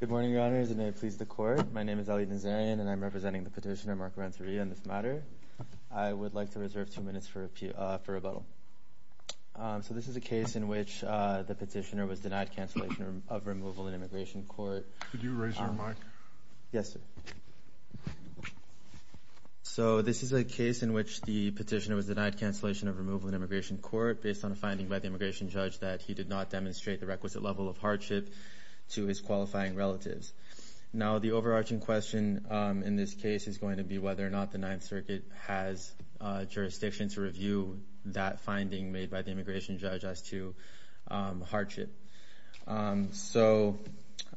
Good morning, Your Honors, and may it please the Court, my name is Eli Nazarian, and I'm representing the petitioner, Mark Renteria, in this matter. I would like to reserve two minutes for rebuttal. So this is a case in which the petitioner was denied cancellation of removal in immigration court. Could you raise your mic? Yes, sir. So this is a case in which the petitioner was denied cancellation of removal in immigration court based on a requisite level of hardship to his qualifying relatives. Now the overarching question in this case is going to be whether or not the Ninth Circuit has jurisdiction to review that finding made by the immigration judge as to hardship. So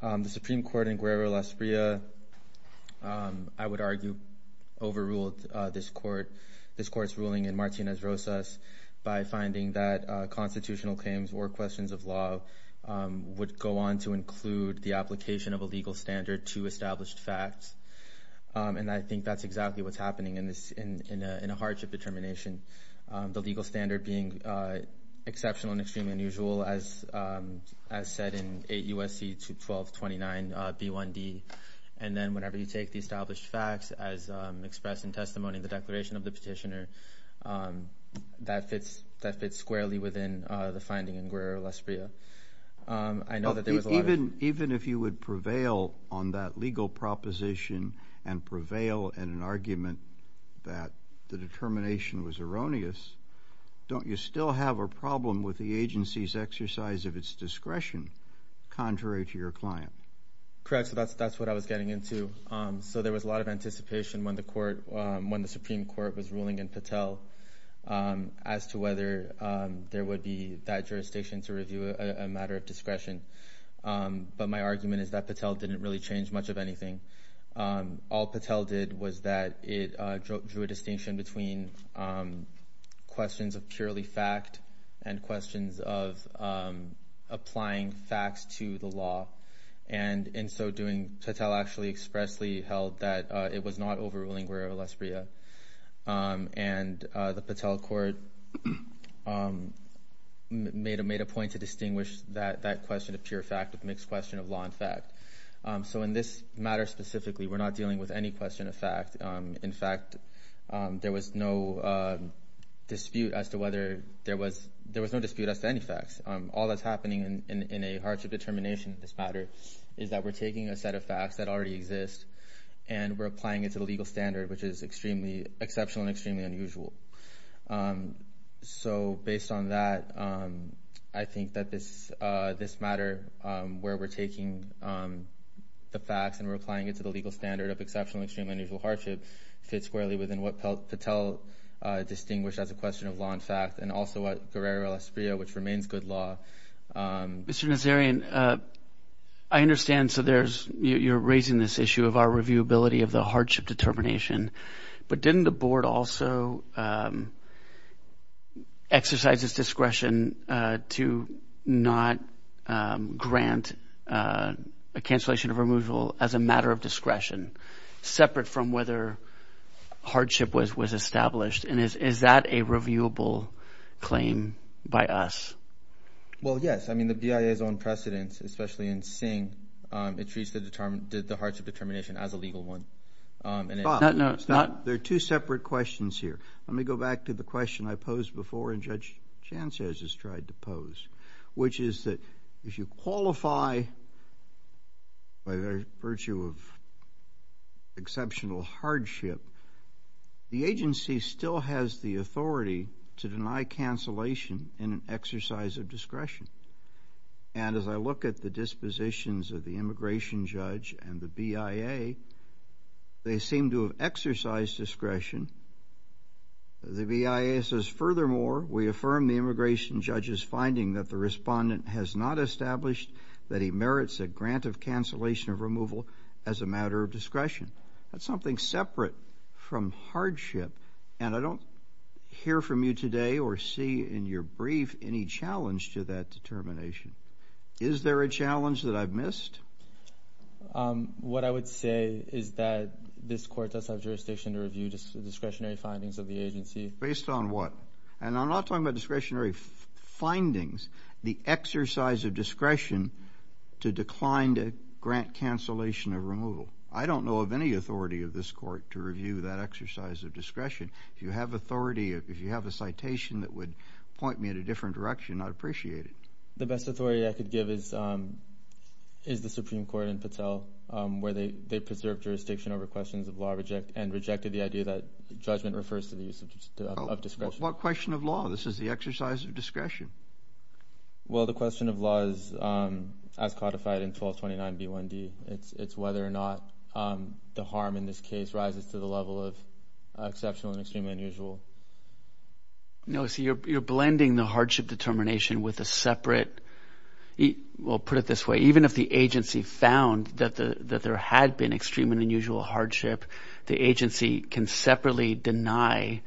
the Supreme Court in Guerra-La Esprilla, I would argue, overruled this Court's ruling in Martinez-Rosas by finding that constitutional claims or questions of law would go on to include the application of a legal standard to established facts. And I think that's exactly what's happening in a hardship determination, the legal standard being exceptional and extremely unusual, as said in 8 U.S.C. 21229 B1d. And then whenever you take the established facts as expressed in testimony in the declaration of the petitioner, that fits squarely within the finding in Guerra-La Esprilla. Even if you would prevail on that legal proposition and prevail in an argument that the determination was erroneous, don't you still have a problem with the agency's exercise of its discretion contrary to your client? Correct, so that's what I was getting into. So there was a lot of anticipation when the Supreme Court was ruling in Patel as to whether there would be that jurisdiction to review a matter of discretion. But my argument is that Patel didn't really change much of anything. All Patel did was that it drew a distinction between questions of purely fact and questions of applying facts to the law. And so Patel actually expressly held that it was not overruling Guerra-La Esprilla. And the Patel court made a point to distinguish that question of pure fact with a mixed question of law and fact. So in this matter specifically, we're not dealing with any question of fact. In fact, there was no dispute as to whether there was there was no dispute as to any facts. All that's happening in a hardship determination in this matter is that we're taking a set of facts that already exist and we're applying it to the legal standard, which is exceptional and extremely unusual. So based on that, I think that this matter where we're taking the facts and we're applying it to the legal standard of exceptional, extremely unusual hardship fits squarely within what Patel distinguished as a question of law and fact and also what Guerrera-La Esprilla, which remains good law. Mr. Nazarian, I understand. So there's you're raising this issue of our reviewability of the hardship determination. But didn't the board also exercise its discretion to not grant a cancellation of removal as a matter of discretion separate from whether hardship was was established? And is that a reviewable claim by us? Well, yes. I mean, the BIA is on precedence, especially in seeing it treats the hardship determination as a legal one. There are two separate questions here. Let me go back to the question I posed before and Judge Chances has tried to pose, which is that if you qualify by virtue of exceptional hardship, the agency still has the authority to deny cancellation in an exercise of discretion. And as I look at the dispositions of the immigration judge and the BIA, they seem to have exercised discretion. The BIA says, furthermore, we affirm the immigration judge's finding that the respondent has not established that he merits a grant of cancellation of removal as a matter of discretion. That's something separate from hardship. And I don't hear from you today or see in your brief any challenge to that determination. Is there a challenge that I've missed? What I would say is that this court does have jurisdiction to review discretionary findings of the agency. Based on what? And I'm not talking about discretionary findings. The exercise of discretion to decline to grant cancellation of removal. I don't know of any authority of this court to review that exercise of discretion. If you have authority, if you have a citation that would point me at a different direction, I'd appreciate it. The best authority I could give is the Supreme Court in Patel, where they preserved jurisdiction over questions of law and rejected the idea that judgment refers to the use of discretion. What question of law? This is the exercise of discretion. Well, the question of law is, as codified in 1229b1d, it's whether or not the harm in this case rises to the level of exceptional and extremely unusual. No, see, you're blending the hardship determination with a separate, well, put it this way. Even if the agency found that there had been extreme and unusual hardship, the agency can separately deny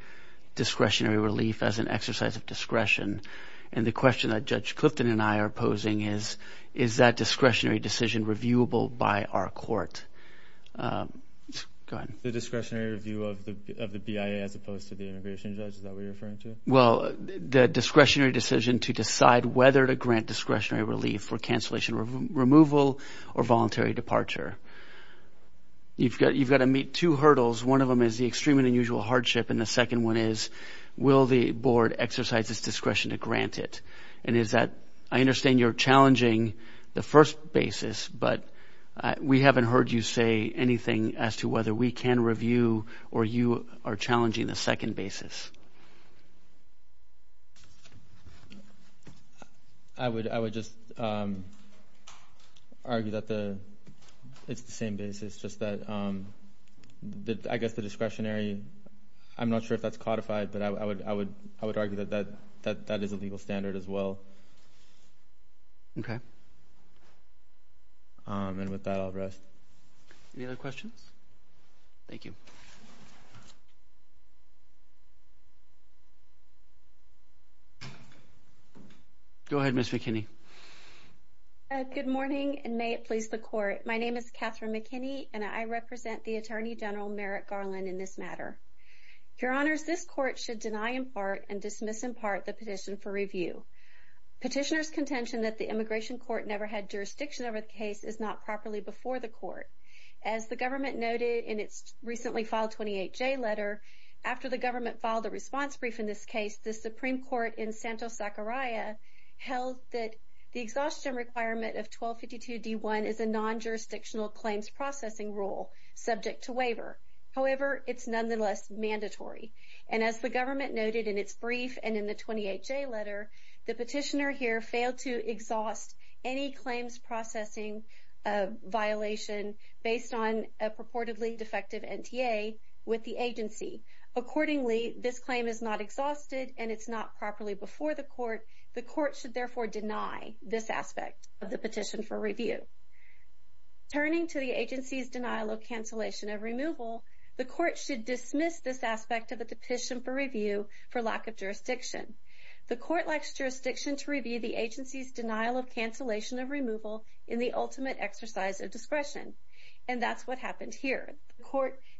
discretionary relief as an exercise of discretion. And the question that Judge Clifton and I are posing is, is that discretionary decision reviewable by our court? Go ahead. The discretionary review of the BIA as opposed to the immigration judge, is that what you're referring to? Well, the discretionary decision to decide whether to grant discretionary relief for cancellation or removal or voluntary departure. You've got to meet two hurdles. One of them is the extreme and unusual hardship, and the second one is, will the board exercise its discretion to grant it? And is that, I understand you're challenging the first basis, but we haven't heard you say anything as to whether we can review or you are challenging the second basis. I would just argue that it's the same basis, just that I guess the discretionary, I'm not sure if that's codified, but I would argue that that is a legal standard as well. Okay. And with that, I'll rest. Any other questions? Thank you. Go ahead, Ms. McKinney. Good morning, and may it please the court. My name is Catherine McKinney, and I represent the Attorney General Merrick Garland in this matter. Your Honors, this court should deny in part and dismiss in part the petition for review. Petitioner's contention that the immigration court never had jurisdiction over the case is not properly before the court. As the government noted in its recently filed 28-J letter, after the government filed a response brief in this case, the Supreme Court in Santos-Zachariah held that the exhaustion requirement of 1252-D1 is a non-jurisdictional claims processing rule subject to waiver. However, it's nonetheless mandatory. And as the government noted in its brief and in the 28-J letter, the petitioner here failed to exhaust any claims processing violation based on a purportedly defective NTA with the agency. Accordingly, this claim is not exhausted, and it's not properly before the court. The court should therefore deny this aspect of the petition for review. Turning to the agency's denial of cancellation of removal, the court should dismiss this aspect of the petition for review for lack of jurisdiction. The court lacks jurisdiction to review the agency's denial of cancellation of removal in the ultimate exercise of discretion. And that's what happened here.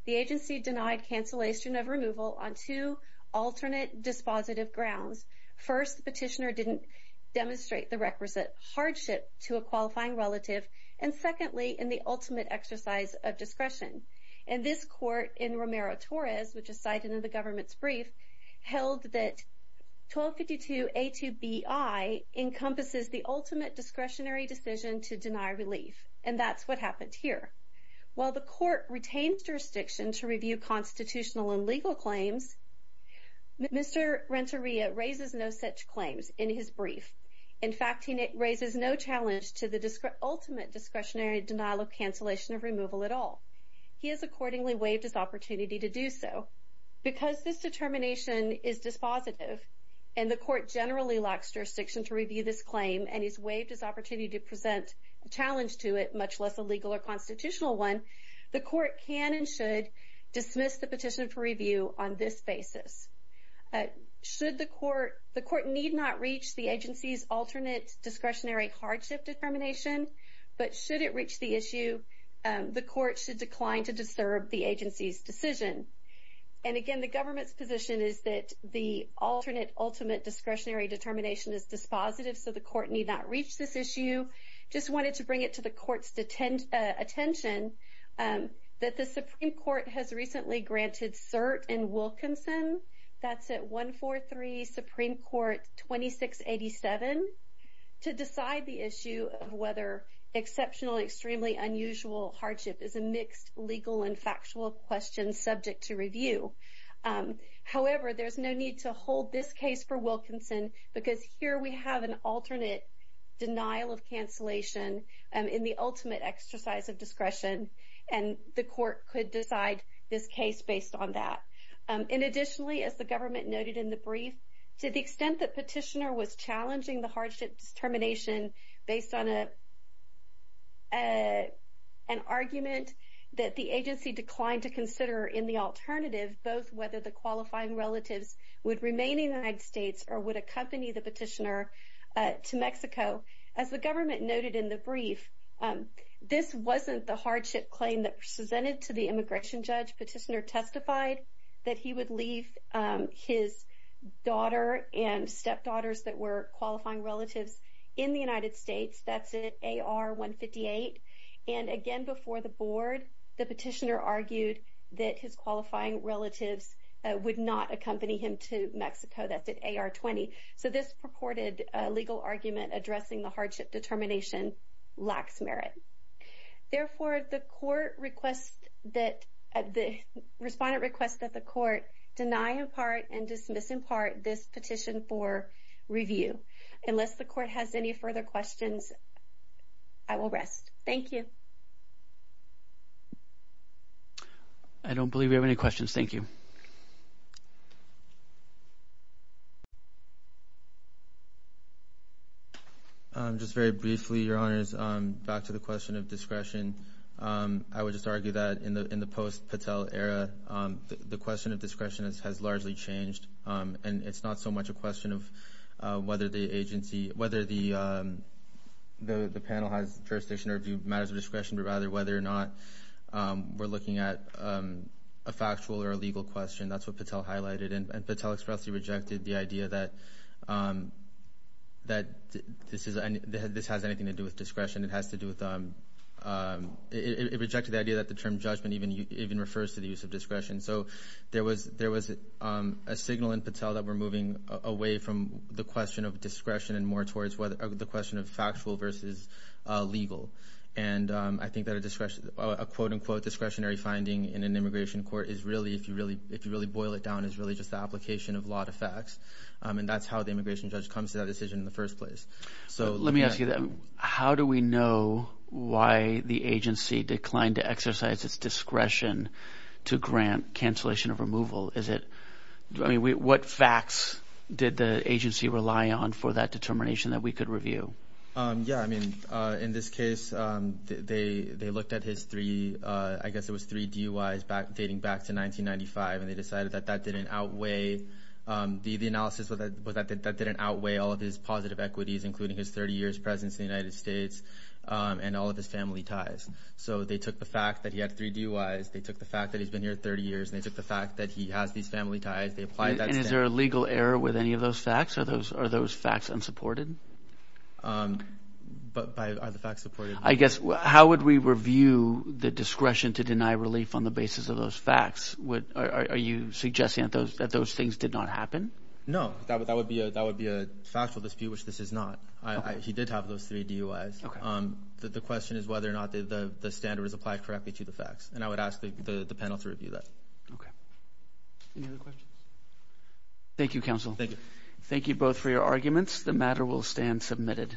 The agency denied cancellation of removal on two alternate dispositive grounds. First, the petitioner didn't demonstrate the requisite hardship to a qualifying relative. And this court in Romero-Torres, which is cited in the government's brief, held that 1252-A2BI encompasses the ultimate discretionary decision to deny relief. And that's what happened here. While the court retained jurisdiction to review constitutional and legal claims, Mr. Renteria raises no such claims in his brief. In fact, he raises no challenge to the ultimate discretionary denial of cancellation of removal at all. He has accordingly waived his opportunity to do so. Because this determination is dispositive, and the court generally lacks jurisdiction to review this claim, and he's waived his opportunity to present a challenge to it, much less a legal or constitutional one, the court can and should dismiss the petition for review on this basis. The court need not reach the agency's alternate discretionary hardship determination, but should it reach the issue, the court should decline to disturb the agency's decision. And again, the government's position is that the alternate ultimate discretionary determination is dispositive, so the court need not reach this issue. I just wanted to bring it to the court's attention that the Supreme Court has recently granted cert in Wilkinson, that's at 143 Supreme Court 2687, to decide the issue of whether exceptional and extremely unusual hardship is a mixed legal and factual question subject to review. However, there's no need to hold this case for Wilkinson, because here we have an alternate denial of cancellation in the ultimate exercise of discretion, and the court could decide this case based on that. And additionally, as the government noted in the brief, to the extent that petitioner was challenging the hardship determination based on an argument that the agency declined to consider in the alternative, both whether the qualifying relatives would remain in the United States or would accompany the petitioner to Mexico. As the government noted in the brief, this wasn't the hardship claim that presented to the immigration judge. Petitioner testified that he would leave his daughter and stepdaughters that were qualifying relatives in the United States. That's at AR 158. And again, before the board, the petitioner argued that his qualifying relatives would not accompany him to Mexico. That's at AR 20. So this purported legal argument addressing the hardship determination lacks merit. Therefore, the court requests that, the respondent requests that the court deny in part and dismiss in part this petition for review. Unless the court has any further questions, I will rest. Thank you. I don't believe we have any questions. Thank you. Just very briefly, Your Honors, back to the question of discretion. I would just argue that in the post-Patel era, the question of discretion has largely changed, and it's not so much a question of whether the agency, whether the panel has jurisdiction or view matters of discretion, but rather whether or not we're looking at a factual or a legal question. That's what Patel highlighted. And Patel expressly rejected the idea that this has anything to do with discretion. It has to do with, it rejected the idea that the term judgment even refers to the use of discretion. So there was a signal in Patel that we're moving away from the question of discretion and more towards the question of factual versus legal. And I think that a quote-unquote discretionary finding in an immigration court is really, if you really boil it down, is really just the application of law to facts. And that's how the immigration judge comes to that decision in the first place. So let me ask you that. How do we know why the agency declined to exercise its discretion to grant cancellation of removal? Is it, I mean, what facts did the agency rely on for that determination that we could review? Yeah. I mean, in this case, they looked at his three, I guess it was three DUIs dating back to 1995, and they decided that that didn't outweigh, the analysis was that that didn't outweigh all of his positive equities, including his 30 years' presence in the United States and all of his family ties. So they took the fact that he had three DUIs. They took the fact that he's been here 30 years, and they took the fact that he has these family ties. And is there a legal error with any of those facts? Are those facts unsupported? But are the facts supported? I guess, how would we review the discretion to deny relief on the basis of those facts? Are you suggesting that those things did not happen? No. That would be a factual dispute, which this is not. He did have those three DUIs. The question is whether or not the standard was applied correctly to the facts, and I would ask the panel to review that. Okay. Any other questions? Thank you, counsel. Thank you. Thank you both for your arguments. The matter will stand submitted.